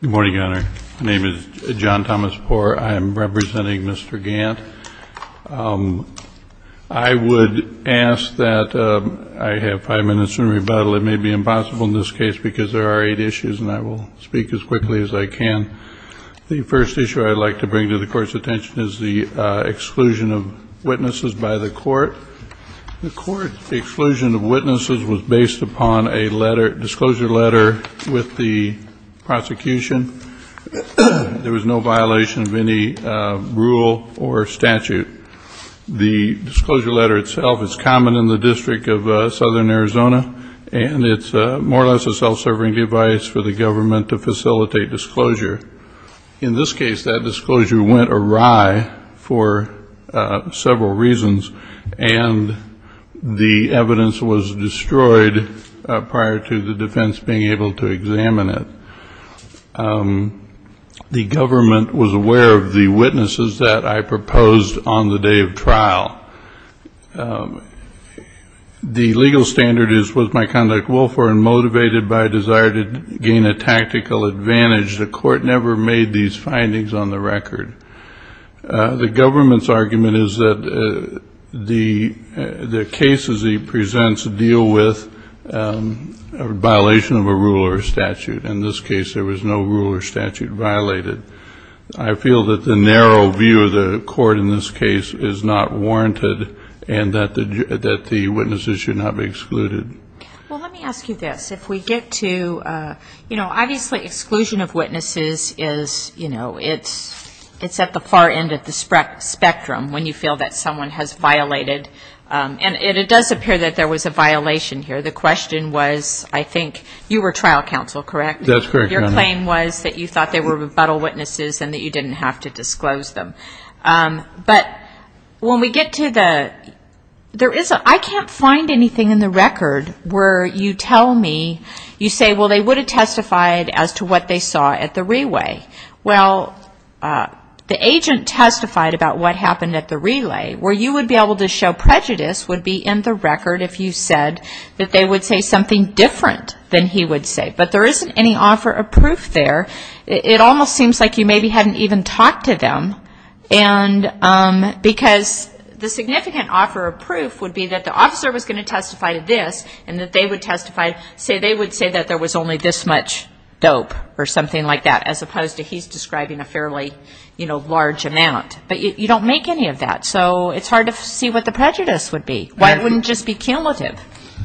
Good morning, Your Honor. My name is John Thomas Poore. I am representing Mr. Gant. I would ask that I have five minutes in rebuttal. It may be impossible in this case because there are eight issues and I will speak as quickly as I can. The first issue I'd like to bring to the Court's attention is the exclusion of witnesses by the Court. The Court's exclusion of witnesses was based upon a letter, disclosure letter, with the prosecution. There was no violation of any rule or statute. The disclosure letter itself is common in the District of for the government to facilitate disclosure. In this case, that disclosure went awry for several reasons, and the evidence was destroyed prior to the defense being able to examine it. The government was aware of the witnesses that I proposed on the day of trial. The legal standard is was my conduct willful and motivated by a desire to gain a tactical advantage. The Court never made these findings on the record. The government's argument is that the cases he presents deal with a violation of a rule or statute. In this case, there was no rule or statute violated. I feel that the narrow view of the Court in this case is not warranted and that the witnesses should not be excluded. Well, let me ask you this. If we get to, you know, obviously exclusion of witnesses is, you know, it's at the far end of the spectrum when you feel that someone has violated. And it does appear that there was a violation here. The question was, I think, you were trial counsel, correct? That's correct, Your Honor. Your claim was that you thought they were rebuttal witnesses and that you didn't have to disclose them. But when we get to the, there is a, I can't find anything in the record where you tell me, you say, well, they would have testified as to what they saw at the relay. Well, the agent testified about what happened at the relay where you would be able to show prejudice would be in the record if you said that they would say something different than he would say. But there isn't any offer of proof there. It almost seems like you maybe hadn't even talked to them. And because the significant offer of proof would be that the officer was going to testify to this and that they would testify, say they would say that there was only this much dope or something like that, as opposed to he's describing a fairly, you know, large amount. But you don't make any of that. So it's hard to see what the prejudice would be. Why wouldn't it just be cumulative?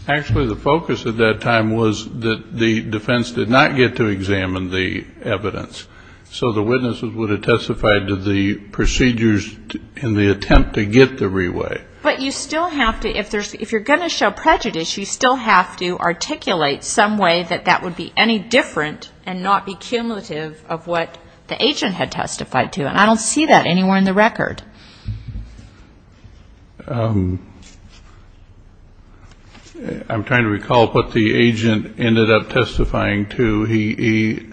Actually the focus at that time was that the defense did not get to examine the evidence. So the witnesses would have testified to the procedures in the attempt to get the relay. But you still have to, if you're going to show prejudice, you still have to articulate some way that that would be any different and not be cumulative of what the agent had testified to. And I don't see that anywhere in the record. I'm trying to recall what the agent ended up testifying to. He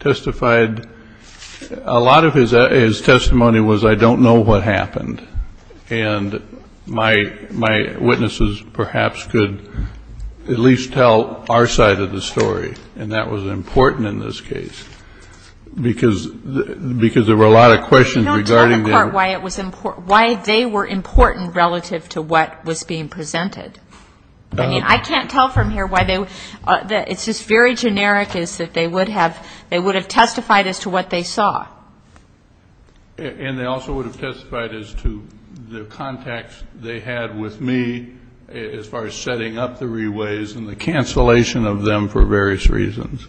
testified, a lot of his testimony was I don't know what happened. And my witnesses perhaps could at least tell our side of the story. And that was important in this case. Because there were a lot of questions regarding the part why they were important relative to what was being presented. I mean, I can't tell from here why they were. It's just very generic is that they would have testified as to what they saw. And they also would have testified as to the contacts they had with me as far as setting up the reways and the cancellation of them for various reasons.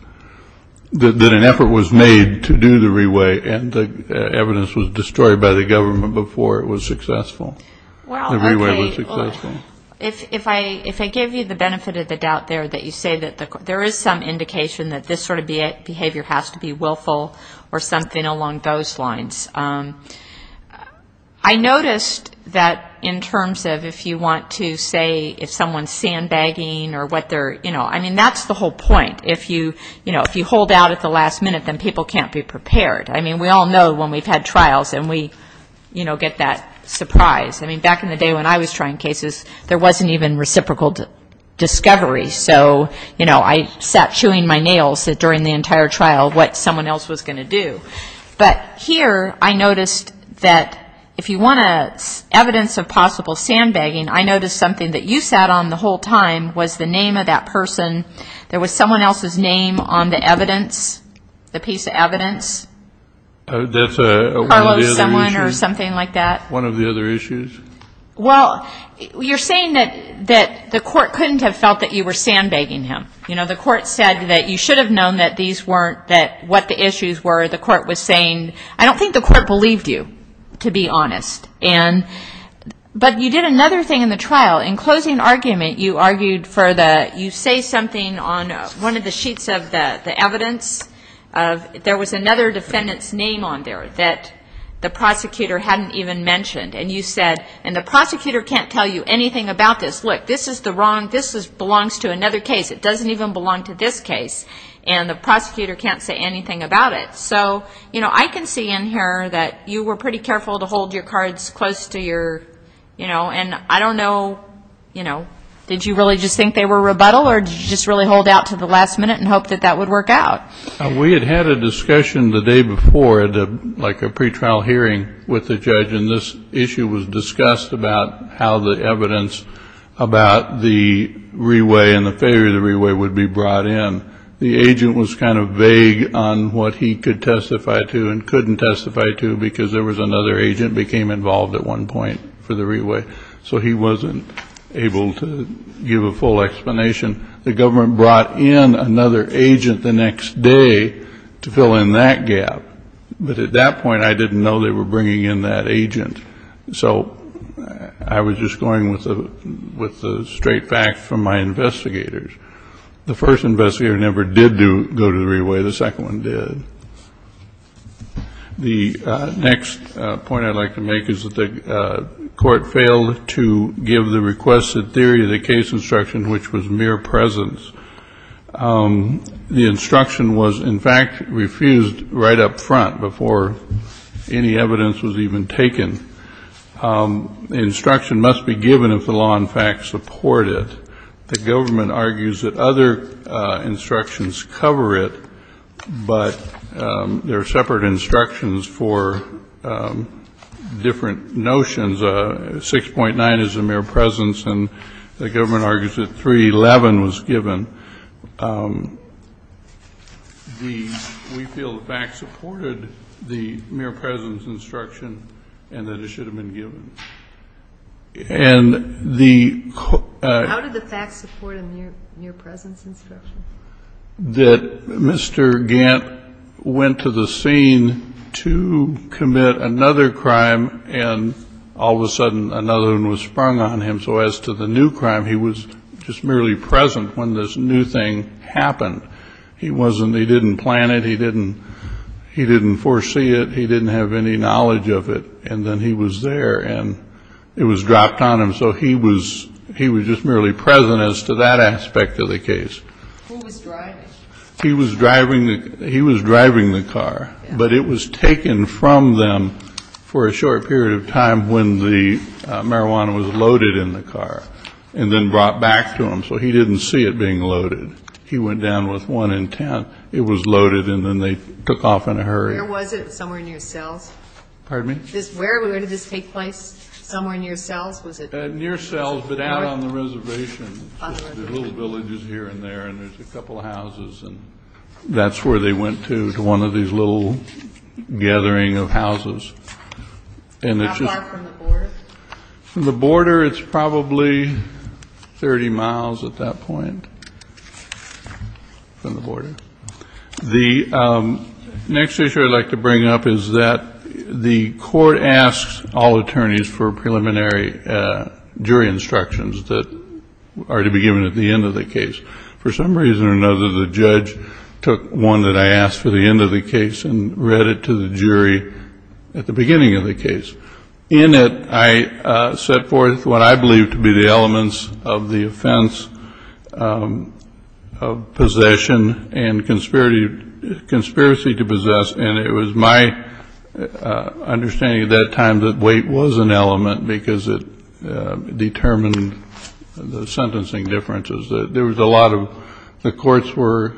That an effort was made to do the reway. And the evidence was destroyed by the government before it was successful. The reway was successful. Well, okay. If I give you the benefit of the doubt there that you say that there is some indication that this sort of behavior has to be willful or something along those lines. I noticed that in terms of if you want to say if someone's sandbagging or what their you know, I mean, that's the whole point. If you hold out at the last minute, then people can't be prepared. I mean, we all know when we've had trials and we, you know, get that surprise. I mean, back in the day when I was trying cases, there wasn't even reciprocal discovery. So, you know, I sat chewing my nails during the entire trial what someone else was going to do. But here I noticed that if you want evidence of possible sandbagging, I noticed something that you sat on the whole time was the name of that person. There was someone else's name on the evidence, the piece of evidence. That's one of the other issues. Or someone or something like that. One of the other issues. Well, you're saying that the court couldn't have felt that you were sandbagging him. You know, the court said that you should have known that these weren't, that what the issues were. The court was saying, I don't think the court believed you, to be honest. And but you did another thing in the trial. In closing argument, you argued for the, you say something on one of the sheets of the evidence. There was another defendant's name on there that the prosecutor hadn't even mentioned. And you said, and the prosecutor can't tell you anything about this. Look, this is the wrong, this belongs to another case. It doesn't even belong to this case. And the prosecutor can't say anything about it. So, you know, I can see in here that you were pretty careful to hold your cards close to your, you know, and I don't know, you know, did you really just think they were rebuttal or did you just really hold out to the last minute and hope that that would work out? We had had a discussion the day before, like a pretrial hearing with the judge, and this issue was discussed about how the evidence about the reway and the failure of the reway would be brought in. The agent was kind of vague on what he could testify to and couldn't testify to because there was another agent became involved at one point for the reway. So he wasn't able to give a full explanation. The government brought in another agent the next day to fill in that gap. But at that point, I didn't know they were bringing in that agent. So I was just going with the straight facts from my investigators. The first investigator never did go to the reway. The second one did. The next point I'd like to make is that the court failed to bring in another agent and failed to give the requested theory of the case instruction, which was mere presence. The instruction was, in fact, refused right up front before any evidence was even taken. The instruction must be given if the law, in fact, supported it. The government argues that other instructions cover it, but there are separate instructions for different notions. 6.9 is a mere presence, and the government argues that 3.11 was given. We feel the facts supported the mere presence instruction and that it should have been given. And the ---- How did the facts support a mere presence instruction? That Mr. Gant went to the scene to commit another crime, and all of a sudden another one was sprung on him. So as to the new crime, he was just merely present when this new thing happened. He wasn't ---- he didn't plan it. He didn't ---- he didn't foresee it. He didn't have any knowledge of it. And then he was there, and it was dropped on him. So he was just merely present as to that aspect of the case. Who was driving? He was driving the car. But it was taken from them for a short period of time when the marijuana was loaded in the car and then brought back to him. So he didn't see it being loaded. He went down with one intent. It was loaded, and then they took off in a hurry. Where was it? Somewhere near Sells? Pardon me? Where did this take place? Somewhere near Sells? Was it ---- Near Sells, but out on the reservation. The little villages here and there, and there's a couple of houses, and that's where they went to, to one of these little gathering of houses. And it's just ---- How far from the border? From the border, it's probably 30 miles at that point from the border. The next issue I'd like to bring up is that the court asks all attorneys for preliminary jury instructions that are to be given at the end of the case. For some reason or another, the judge took one that I asked for the end of the case and read it to the jury at the beginning of the case. In it, I set forth what I believe to be the elements of the offense of possession and conspiracy to possess, and in it was my understanding at that time that weight was an element because it determined the sentencing differences. There was a lot of ---- the courts were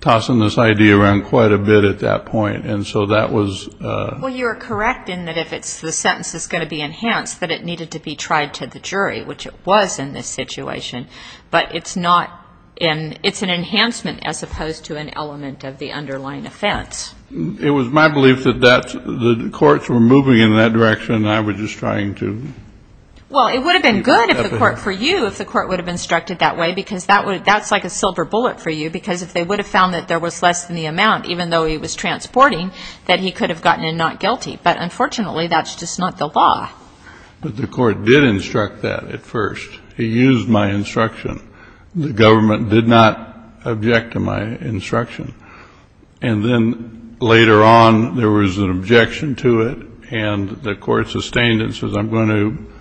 tossing this idea around quite a bit at that point, and so that was ---- Well, you're correct in that if it's the sentence is going to be enhanced, that it needed to be tried to the jury, which it was in this situation. But it's not in ---- it's an enhancement as opposed to an element of the underlying offense. It was my belief that that's the courts were moving in that direction, and I was just trying to ---- Well, it would have been good for you if the court would have instructed that way, because that's like a silver bullet for you, because if they would have found that there was less than the amount, even though he was transporting, that he could have gotten a not guilty. But unfortunately, that's just not the law. But the court did instruct that at first. He used my instruction. The government did not object to my instruction. And then later on, there was an objection to it, and the court sustained it and says, I'm going to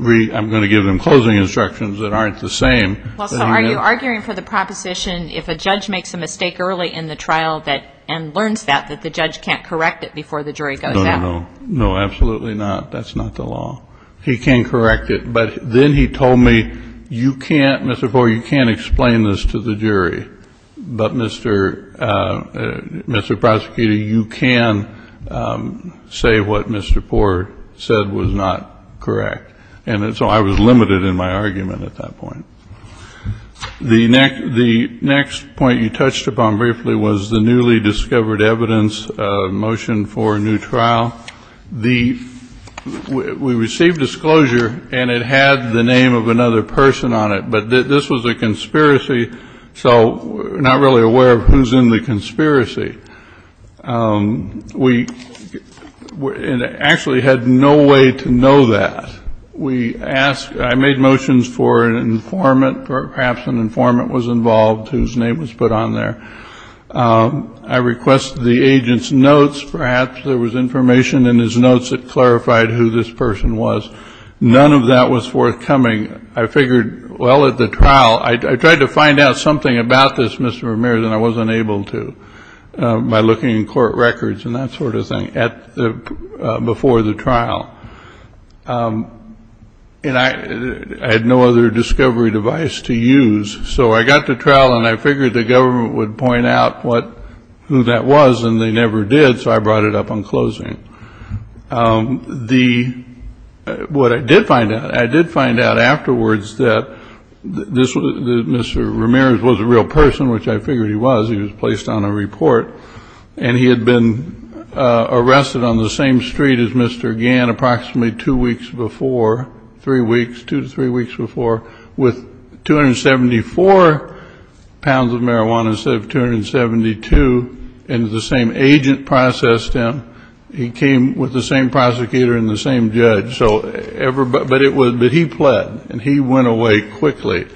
---- I'm going to give them closing instructions that aren't the same. Well, so are you arguing for the proposition if a judge makes a mistake early in the trial that ---- and learns that, that the judge can't correct it before the jury goes down? No, no, no. No, absolutely not. That's not the law. He can correct it. But then he told me, you can't, Mr. Poore, you can't explain this to the jury. But, Mr. Prosecutor, you can say what Mr. Poore said was not correct. And so I was limited in my argument at that point. The next point you touched upon briefly was the newly discovered evidence motion for a new trial. The ---- we received disclosure, and it had the name of another person on it. But this was a conspiracy, so we're not really aware of who's in the conspiracy. We actually had no way to know that. We asked ---- I made motions for an informant or perhaps an informant was involved whose name was put on there. I requested the agent's notes. Perhaps there was information in his notes that clarified who this person was. None of that was forthcoming. I figured, well, at the trial, I tried to find out something about this, Mr. Ramirez, and I wasn't able to by looking in court records and that sort of thing at the ---- before the trial. And I had no other discovery device to use. So I got to trial, and I figured the government would point out what ---- who that was, and they never did, so I brought it up on closing. The ---- what I did find out, I did find out afterwards that this was ---- that Mr. Ramirez was a real person, which I figured he was. He was placed on a report. And he had been arrested on the same street as Mr. Gann approximately two weeks before, three weeks, two to three weeks before, with 274 pounds of marijuana instead of 272, and the same agent processed him. He came with the same prosecutor and the same judge. So everybody ---- but it was ---- but he pled, and he went away quickly.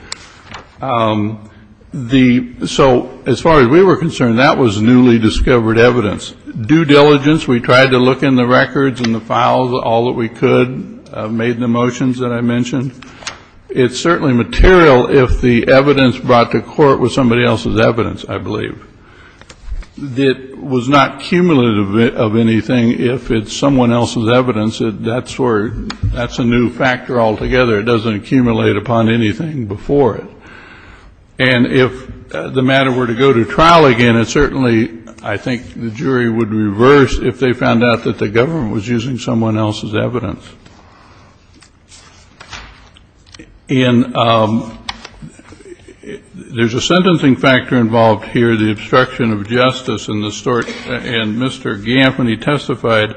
The ---- so as far as we were concerned, that was newly discovered evidence. Due diligence, we tried to look in the records and the files, all that we could, made the motions that I mentioned. It's certainly material if the evidence brought to court was somebody else's evidence, I believe. It was not cumulative of anything if it's someone else's evidence. That's where ---- that's a new factor altogether. It doesn't accumulate upon anything before it. And if the matter were to go to trial again, it certainly ---- I think the jury would reverse if they found out that the government was using someone else's evidence. In ---- there's a sentencing factor involved here, the obstruction of justice and the sort ---- and Mr. Gann, when he testified,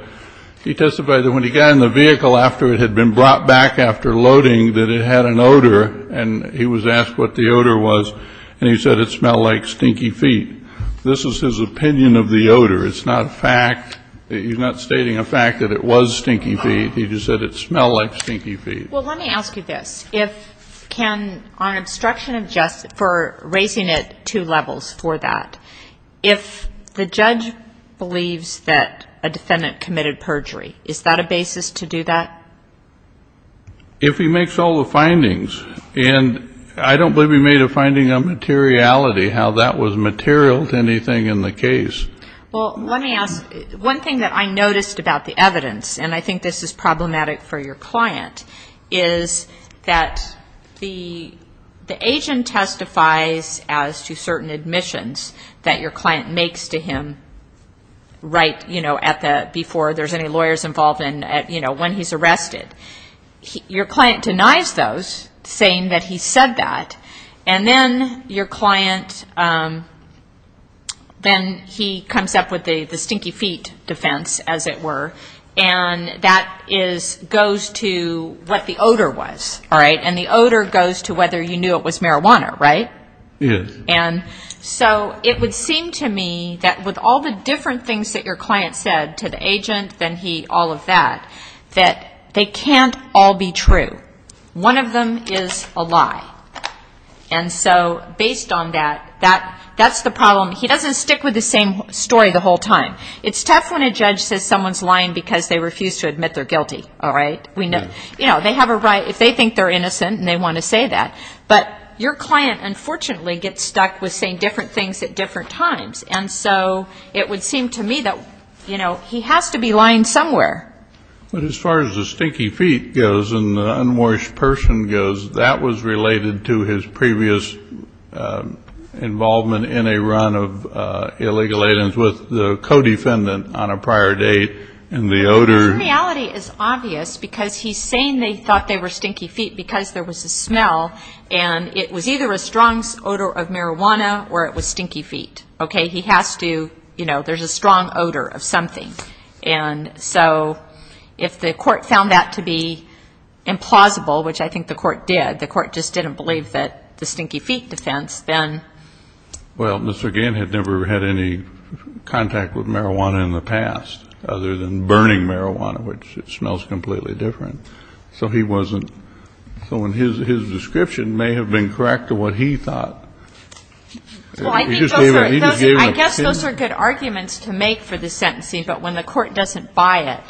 he testified that when he got in the vehicle after it had been brought back after loading, that it had an odor, and he was asked what the odor was, and he said it smelled like stinky feet. This is his opinion of the odor. It's not a fact. He's not stating a fact that it was stinky feet. He just said it smelled like stinky feet. Well, let me ask you this. If ---- can ---- on obstruction of justice, for raising it two levels for that, if the If he makes all the findings, and I don't believe he made a finding on materiality, how that was material to anything in the case. Well, let me ask ---- one thing that I noticed about the evidence, and I think this is problematic for your client, is that the agent testifies as to certain admissions that your client makes to him right, you know, at the ---- before there's any lawyers involved and, you know, when he's arrested. Your client denies those, saying that he said that, and then your client ---- then he comes up with the stinky feet defense, as it were, and that is ---- goes to what the odor was, all right? And the odor goes to whether you knew it was marijuana, right? Yes. And so it would seem to me that with all the different things that your client said to the agent, then he, all of that, that they can't all be true. One of them is a lie. And so based on that, that's the problem. He doesn't stick with the same story the whole time. It's tough when a judge says someone's lying because they refuse to admit they're guilty, all right? You know, they have a right, if they think they're innocent and they want to say that. But your client, unfortunately, gets stuck with saying different things at different times. And so it would seem to me that, you know, he has to be lying somewhere. But as far as the stinky feet goes and the unwashed person goes, that was related to his previous involvement in a run of illegal aliens with the co-defendant on a prior date. And the odor ---- It's obvious because he's saying they thought they were stinky feet because there was a smell and it was either a strong odor of marijuana or it was stinky feet. Okay? He has to, you know, there's a strong odor of something. And so if the court found that to be implausible, which I think the court did, the court just didn't believe that the stinky feet defense, then ---- Well, Mr. Gant had never had any contact with marijuana in the past other than burning marijuana, which smells completely different. So he wasn't ---- So his description may have been correct to what he thought. Well, I think those are good arguments to make for the sentencing. But when the court doesn't buy it,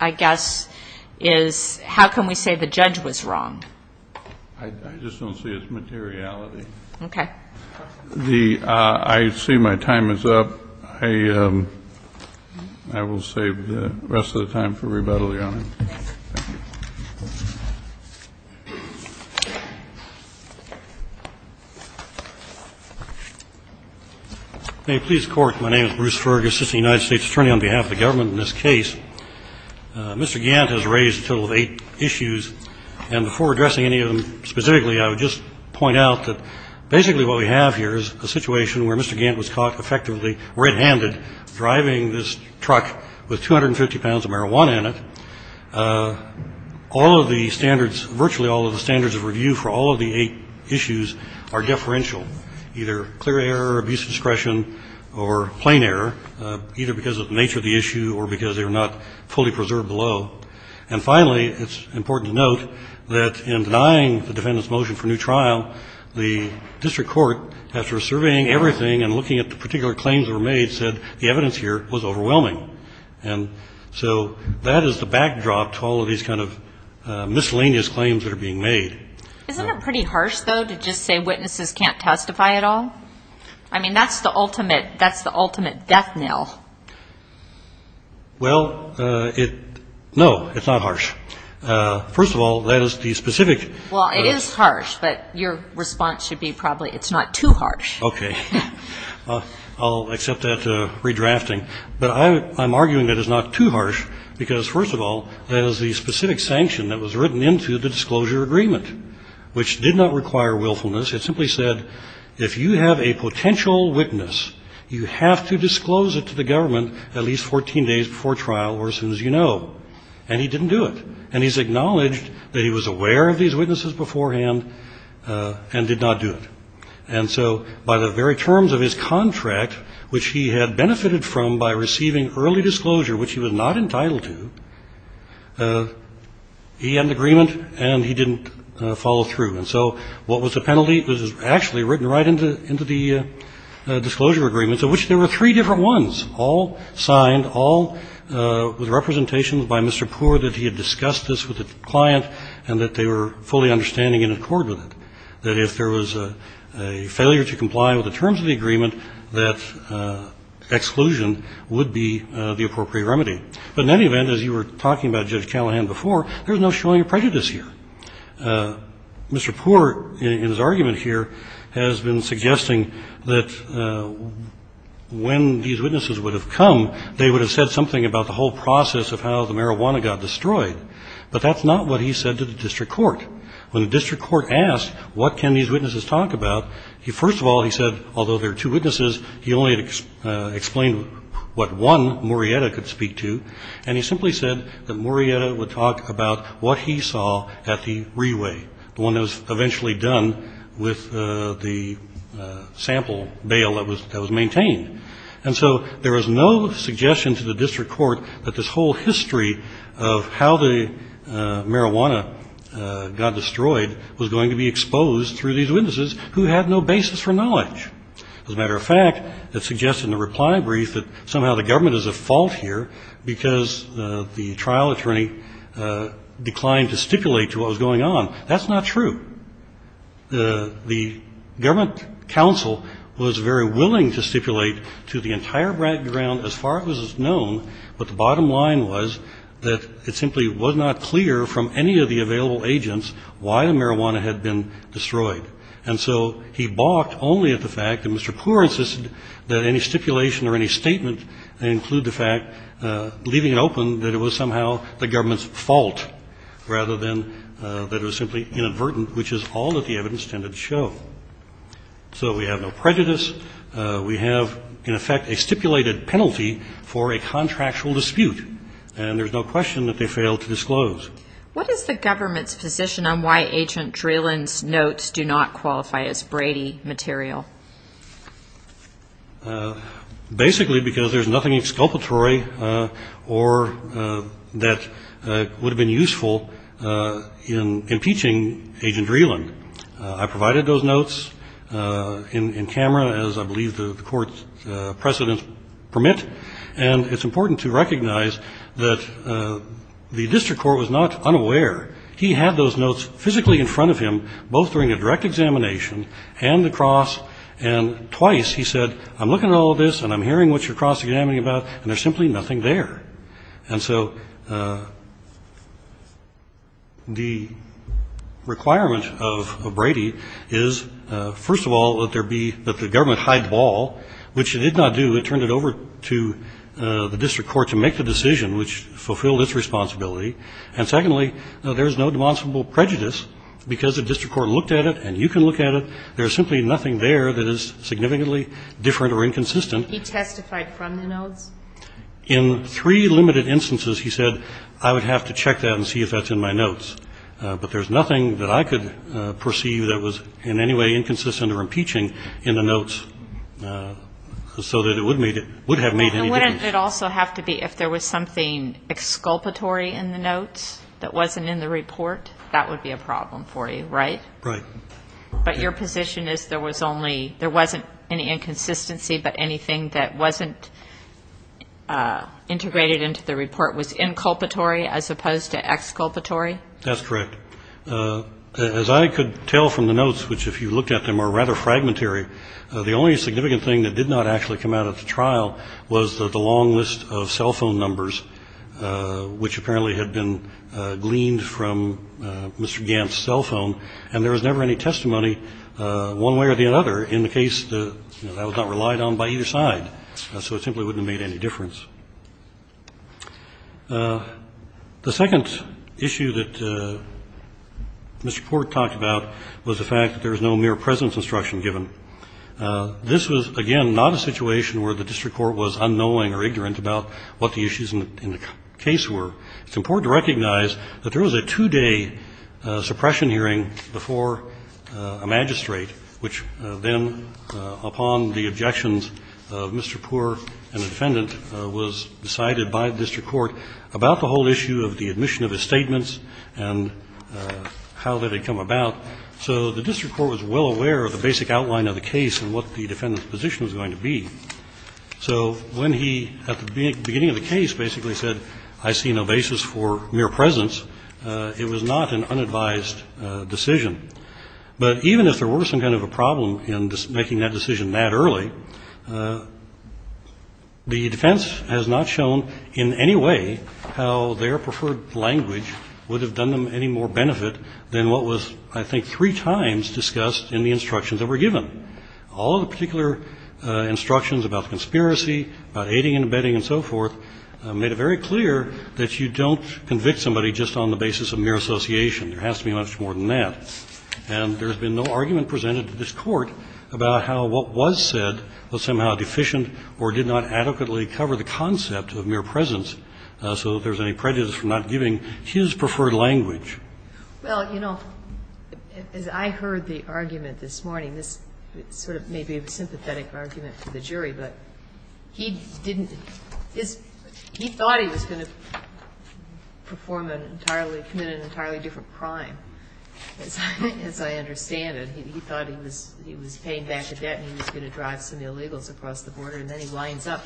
I guess is how can we say the judge was wrong? I just don't see its materiality. Okay. I see my time is up. I will save the rest of the time for rebuttal, Your Honor. Thank you. May it please the Court. My name is Bruce Fergus, assistant United States attorney on behalf of the government in this case. Mr. Gant has raised a total of eight issues. And before addressing any of them specifically, I would just point out that basically what we have here is a situation where Mr. Gant was caught effectively red-handed driving this truck with 250 pounds of marijuana in it. All of the standards, virtually all of the standards of review for all of the eight issues are deferential, either clear error, abuse of discretion, or plain error, either because of the nature of the issue or because they were not fully preserved below. And finally, it's important to note that in denying the defendant's motion for new trial, the district court, after surveying everything and looking at the particular claims that were made, said the evidence here was overwhelming. And so that is the backdrop to all of these kind of miscellaneous claims that are being made. Isn't it pretty harsh, though, to just say witnesses can't testify at all? I mean, that's the ultimate death knell. Well, it no, it's not harsh. First of all, that is the specific. Well, it is harsh, but your response should be probably it's not too harsh. Okay. I'll accept that redrafting. But I'm arguing that it's not too harsh because, first of all, that is the specific sanction that was written into the disclosure agreement, which did not require willfulness. It simply said if you have a potential witness, you have to disclose it to the government at least 14 days before trial or as soon as you know. And he didn't do it. And he's acknowledged that he was aware of these witnesses beforehand and did not do it. And so by the very terms of his contract, which he had benefited from by receiving early disclosure, which he was not entitled to, he had an agreement and he didn't follow through. And so what was the penalty? It was actually written right into the disclosure agreements, of which there were three different ones, all signed, all with representations by Mr. Poore that he had discussed this with the client and that they were fully understanding and in accord with it, that if there was a failure to comply with the terms of the agreement, that exclusion would be the appropriate remedy. But in any event, as you were talking about, Judge Callahan, before, there was no showing of prejudice here. Mr. Poore, in his argument here, has been suggesting that when these witnesses would have come, they would have said something about the whole process of how the marijuana got destroyed. But that's not what he said to the district court. When the district court asked what can these witnesses talk about, first of all, he said, although there are two witnesses, he only explained what one, Murrieta, could speak to. And he simply said that Murrieta would talk about what he saw at the re-way, the one that was eventually done with the sample bale that was maintained. And so there was no suggestion to the district court that this whole history of how the marijuana got destroyed was going to be exposed through these witnesses who had no basis for knowledge. As a matter of fact, it's suggested in the reply brief that somehow the government is at fault here because the trial attorney declined to stipulate to what was going on. That's not true. The government counsel was very willing to stipulate to the entire background as far as it was known, but the bottom line was that it simply was not clear from any of the available agents why the marijuana had been destroyed. And so he balked only at the fact that Mr. Poore insisted that any stipulation or any statement include the fact, leaving it open, that it was somehow the government's fault, rather than that it was simply inadvertent, which is all that the evidence tended to show. So we have no prejudice. We have, in effect, a stipulated penalty for a contractual dispute, and there's no question that they failed to disclose. What is the government's position on why Agent Dralen's notes do not qualify as Brady material? Basically because there's nothing exculpatory or that would have been useful in impeaching Agent Dralen. I provided those notes in camera, as I believe the court's precedents permit, and it's important to recognize that the district court was not unaware. He had those notes physically in front of him, both during a direct examination and the cross, and twice he said, I'm looking at all of this and I'm hearing what you're cross-examining about, and there's simply nothing there. And so the requirement of Brady is, first of all, that the government hide the ball, which it did not do. It turned it over to the district court to make the decision, which fulfilled its responsibility. And secondly, there's no demonstrable prejudice because the district court looked at it and you can look at it. There's simply nothing there that is significantly different or inconsistent. He testified from the notes? In three limited instances, he said, I would have to check that and see if that's in my notes. But there's nothing that I could perceive that was in any way inconsistent or impeaching And wouldn't it also have to be if there was something exculpatory in the notes that wasn't in the report? That would be a problem for you, right? Right. But your position is there was only, there wasn't any inconsistency, but anything that wasn't integrated into the report was inculpatory as opposed to exculpatory? That's correct. As I could tell from the notes, which if you looked at them are rather fragmentary, the only significant thing that did not actually come out of the trial was the long list of cell phone numbers, which apparently had been gleaned from Mr. Gant's cell phone. And there was never any testimony one way or the other in the case that was not relied on by either side. So it simply wouldn't have made any difference. The second issue that Mr. Port talked about was the fact that there was no mere presence instruction given. This was, again, not a situation where the district court was unknowing or ignorant about what the issues in the case were. It's important to recognize that there was a two-day suppression hearing before a magistrate, which then, upon the objections of Mr. Poore and the defendant, was decided by the district court about the whole issue of the admission of his statements and how that had come about. So the district court was well aware of the basic outline of the case and what the defendant's position was going to be. So when he, at the beginning of the case, basically said, I see no basis for mere presence, it was not an unadvised decision. But even if there were some kind of a problem in making that decision that early, the defense has not shown in any way how their preferred language would have done them any more benefit than what was, I think, three times discussed in the instructions that were given. All of the particular instructions about conspiracy, about aiding and abetting and so forth, made it very clear that you don't convict somebody just on the basis of mere association. There has to be much more than that. And there's been no argument presented to this Court about how what was said was somehow deficient or did not adequately cover the concept of mere presence, so that there's any prejudice from not giving his preferred language. Well, you know, as I heard the argument this morning, this sort of may be a sympathetic argument to the jury, but he didn't his he thought he was going to perform an entirely committed an entirely different crime, as I understand it. He thought he was paying back the debt and he was going to drive some illegals across the border, and then he winds up,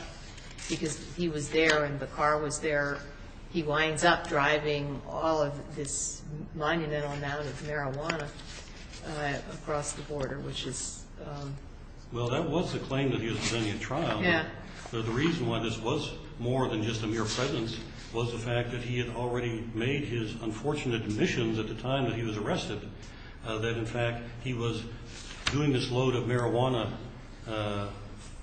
because he was there and the car was there, he winds up driving all of this monumental amount of marijuana across the border, which is... Well, that was the claim that he was going to be in trial. Yeah. The reason why this was more than just a mere presence was the fact that he had already made his unfortunate admissions at the time that he was arrested, that, in fact, he was doing this load of marijuana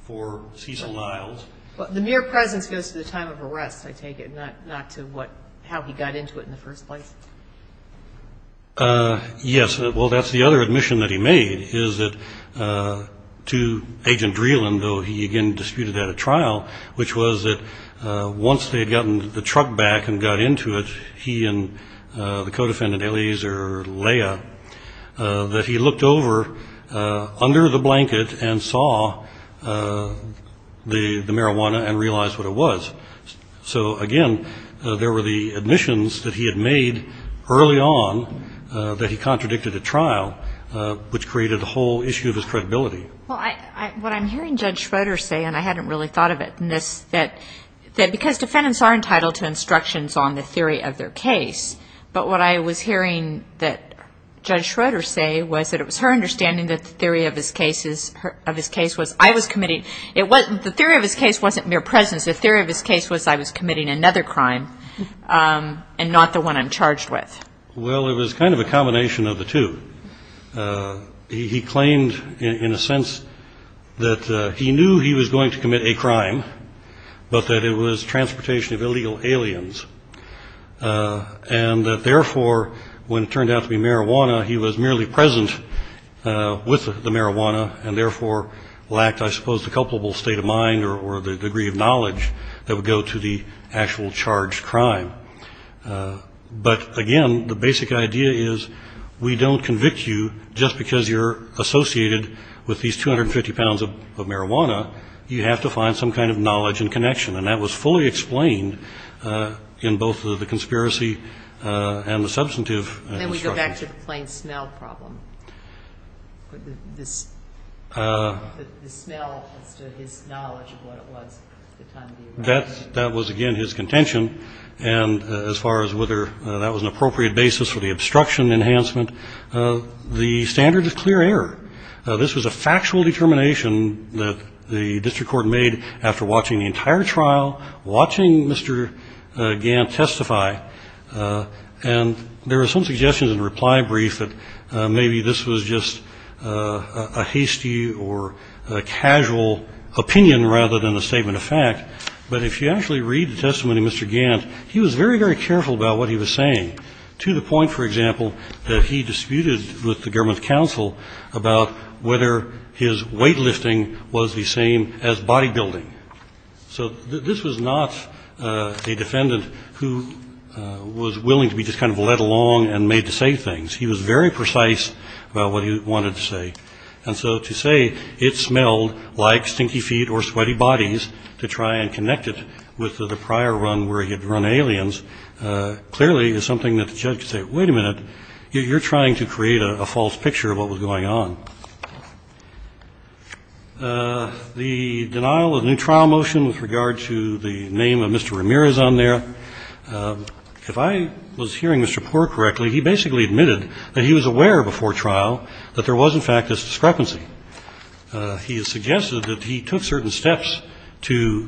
for Cecil Niles. The mere presence goes to the time of arrest, I take it, not to how he got into it in the first place. Yes. Well, that's the other admission that he made is that to Agent Dreeland, though he again disputed that at trial, which was that once they had gotten the truck back and got into it, he and the co-defendant, Eliezer Lea, that he looked over under the blanket and saw the marijuana and realized what it was. So, again, there were the admissions that he had made early on that he contradicted at trial, which created a whole issue of his credibility. Well, what I'm hearing Judge Schroeder say, and I hadn't really thought of it, is that because defendants are entitled to instructions on the theory of their case, but what I was hearing that Judge Schroeder say was that it was her understanding that the theory of his case was, I was committing, the theory of his case wasn't mere presence, the theory of his case was I was committing another crime and not the one I'm charged with. Well, it was kind of a combination of the two. He claimed, in a sense, that he knew he was going to commit a crime, but that it was transportation of illegal aliens, and that, therefore, when it turned out to be marijuana, he was merely present with the marijuana and, therefore, lacked, I suppose, the culpable state of mind or the degree of knowledge that would go to the actual charged crime. But, again, the basic idea is we don't convict you just because you're associated with these 250 pounds of marijuana. You have to find some kind of knowledge and connection, and that was fully explained in both the conspiracy and the substantive instructions. And then we go back to the plain smell problem, this smell as to his knowledge of what it was at the time of the arrest. That was, again, his contention. And as far as whether that was an appropriate basis for the obstruction enhancement, the standard is clear error. This was a factual determination that the district court made after watching the entire trial, watching Mr. Gant testify, and there were some suggestions in the reply brief that maybe this was just a hasty or a casual opinion rather than a statement of fact. But if you actually read the testimony of Mr. Gant, he was very, very careful about what he was saying, to the point, for example, that he disputed with the government counsel about whether his weightlifting was the same as bodybuilding. So this was not a defendant who was willing to be just kind of led along and made to say things. He was very precise about what he wanted to say. And so to say it smelled like stinky feet or sweaty bodies to try and connect it with the prior run where he had run aliens clearly is something that the judge could say, wait a minute, you're trying to create a false picture of what was going on. The denial of the new trial motion with regard to the name of Mr. Ramirez on there, if I was hearing Mr. Poore correctly, he basically admitted that he was aware before trial that there was, in fact, this discrepancy. He has suggested that he took certain steps to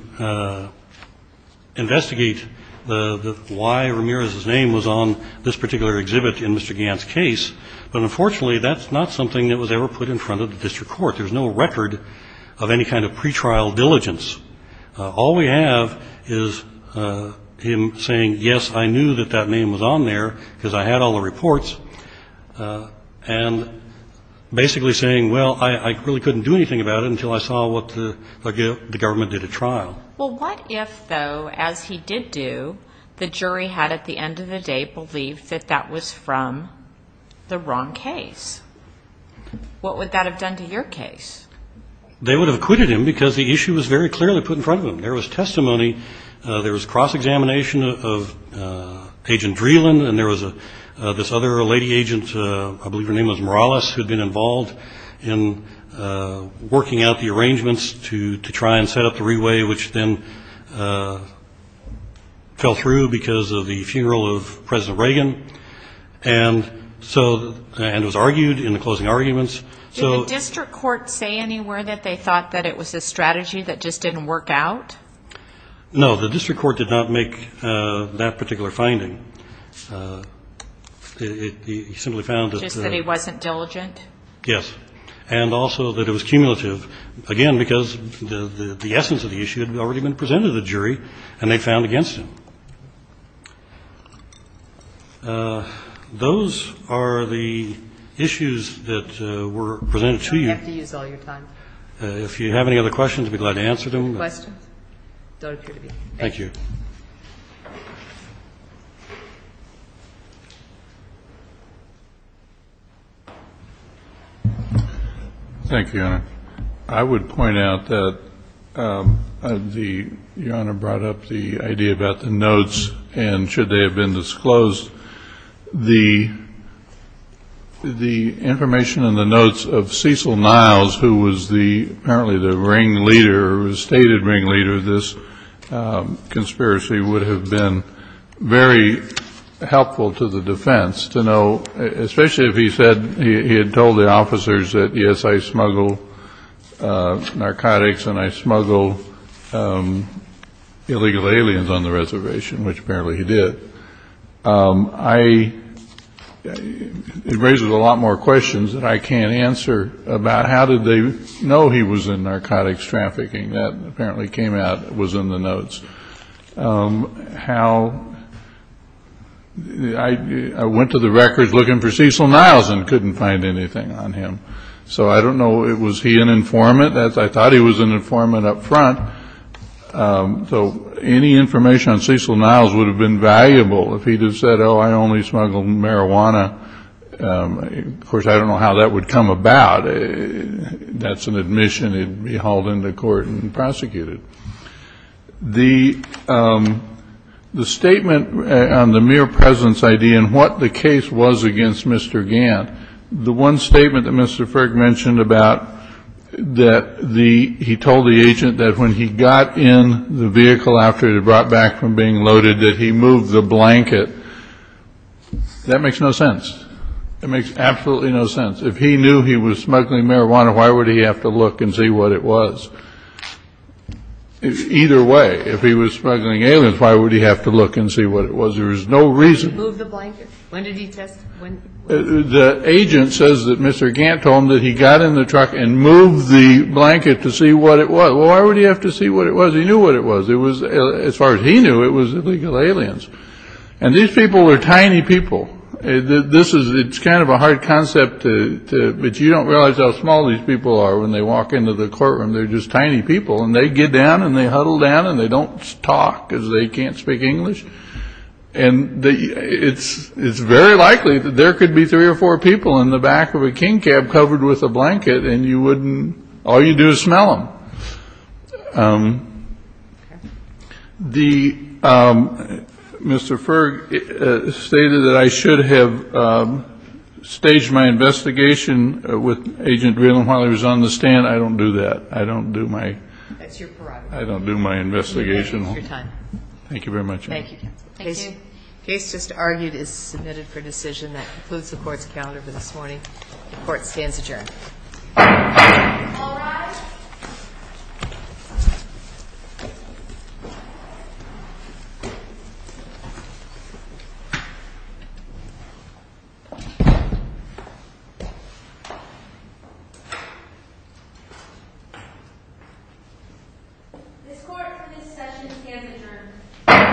investigate why Ramirez's name was on this particular exhibit in Mr. Gant's case, but unfortunately that's not something that was ever put in front of the district court. There's no record of any kind of pretrial diligence. All we have is him saying, yes, I knew that that name was on there because I had all the reports, and basically saying, well, I really couldn't do anything about it until I saw what the government did at trial. Well, what if, though, as he did do, the jury had at the end of the day believed that that was from the wrong case? What would that have done to your case? They would have acquitted him because the issue was very clearly put in front of him. There was testimony, there was cross-examination of Agent Vreeland, and there was this other lady agent, I believe her name was Morales, who had been involved in working out the arrangements to try and set up the re-way, which then fell through because of the funeral of President Reagan and was argued in the closing arguments. Did the district court say anywhere that they thought that it was a strategy that just didn't work out? No, the district court did not make that particular finding. It simply found that the ---- Just that he wasn't diligent? Yes. And also that it was cumulative, again, because the essence of the issue had already been presented to the jury, and they found against him. Those are the issues that were presented to you. We don't have to use all your time. If you have any other questions, I'd be glad to answer them. Questions? Don't appear to be. Thank you. Thank you, Your Honor. I would point out that the ---- Your Honor brought up the idea about the notes, and should they have been disclosed, the information in the notes of Cecil Niles, who was apparently the ringleader, the stated ringleader of this conspiracy, would have been very helpful to the defense to know, especially if he had told the officers that, yes, I smuggle narcotics and I smuggle illegal aliens on the reservation, which apparently he did. I ---- It raises a lot more questions that I can't answer about how did they know he was in narcotics trafficking. That apparently came out, was in the notes. How ---- I went to the records looking for Cecil Niles and couldn't find anything on him. So I don't know, was he an informant? So any information on Cecil Niles would have been valuable if he had said, oh, I only smuggle marijuana. Of course, I don't know how that would come about. That's an admission. It would be hauled into court and prosecuted. The statement on the mere presence ID and what the case was against Mr. Gant, the one statement that Mr. He got in the vehicle after it had brought back from being loaded, that he moved the blanket. That makes no sense. That makes absolutely no sense. If he knew he was smuggling marijuana, why would he have to look and see what it was? Either way, if he was smuggling aliens, why would he have to look and see what it was? There is no reason. He moved the blanket. When did he test it? The agent says that Mr. Gant told him that he got in the truck and moved the blanket to see what it was. Why would he have to see what it was? He knew what it was. As far as he knew, it was illegal aliens. And these people are tiny people. It's kind of a hard concept, but you don't realize how small these people are when they walk into the courtroom. They're just tiny people. And they get down and they huddle down and they don't talk because they can't speak English. And it's very likely that there could be three or four people in the back of a king cab covered with a blanket, and all you do is smell them. Mr. Ferg stated that I should have staged my investigation with Agent Vreeland while he was on the stand. I don't do that. I don't do my investigation. Thank you very much. Case just argued is submitted for decision. That concludes the Court's calendar for this morning. The Court stands adjourned. All rise. This Court for this session stands adjourned.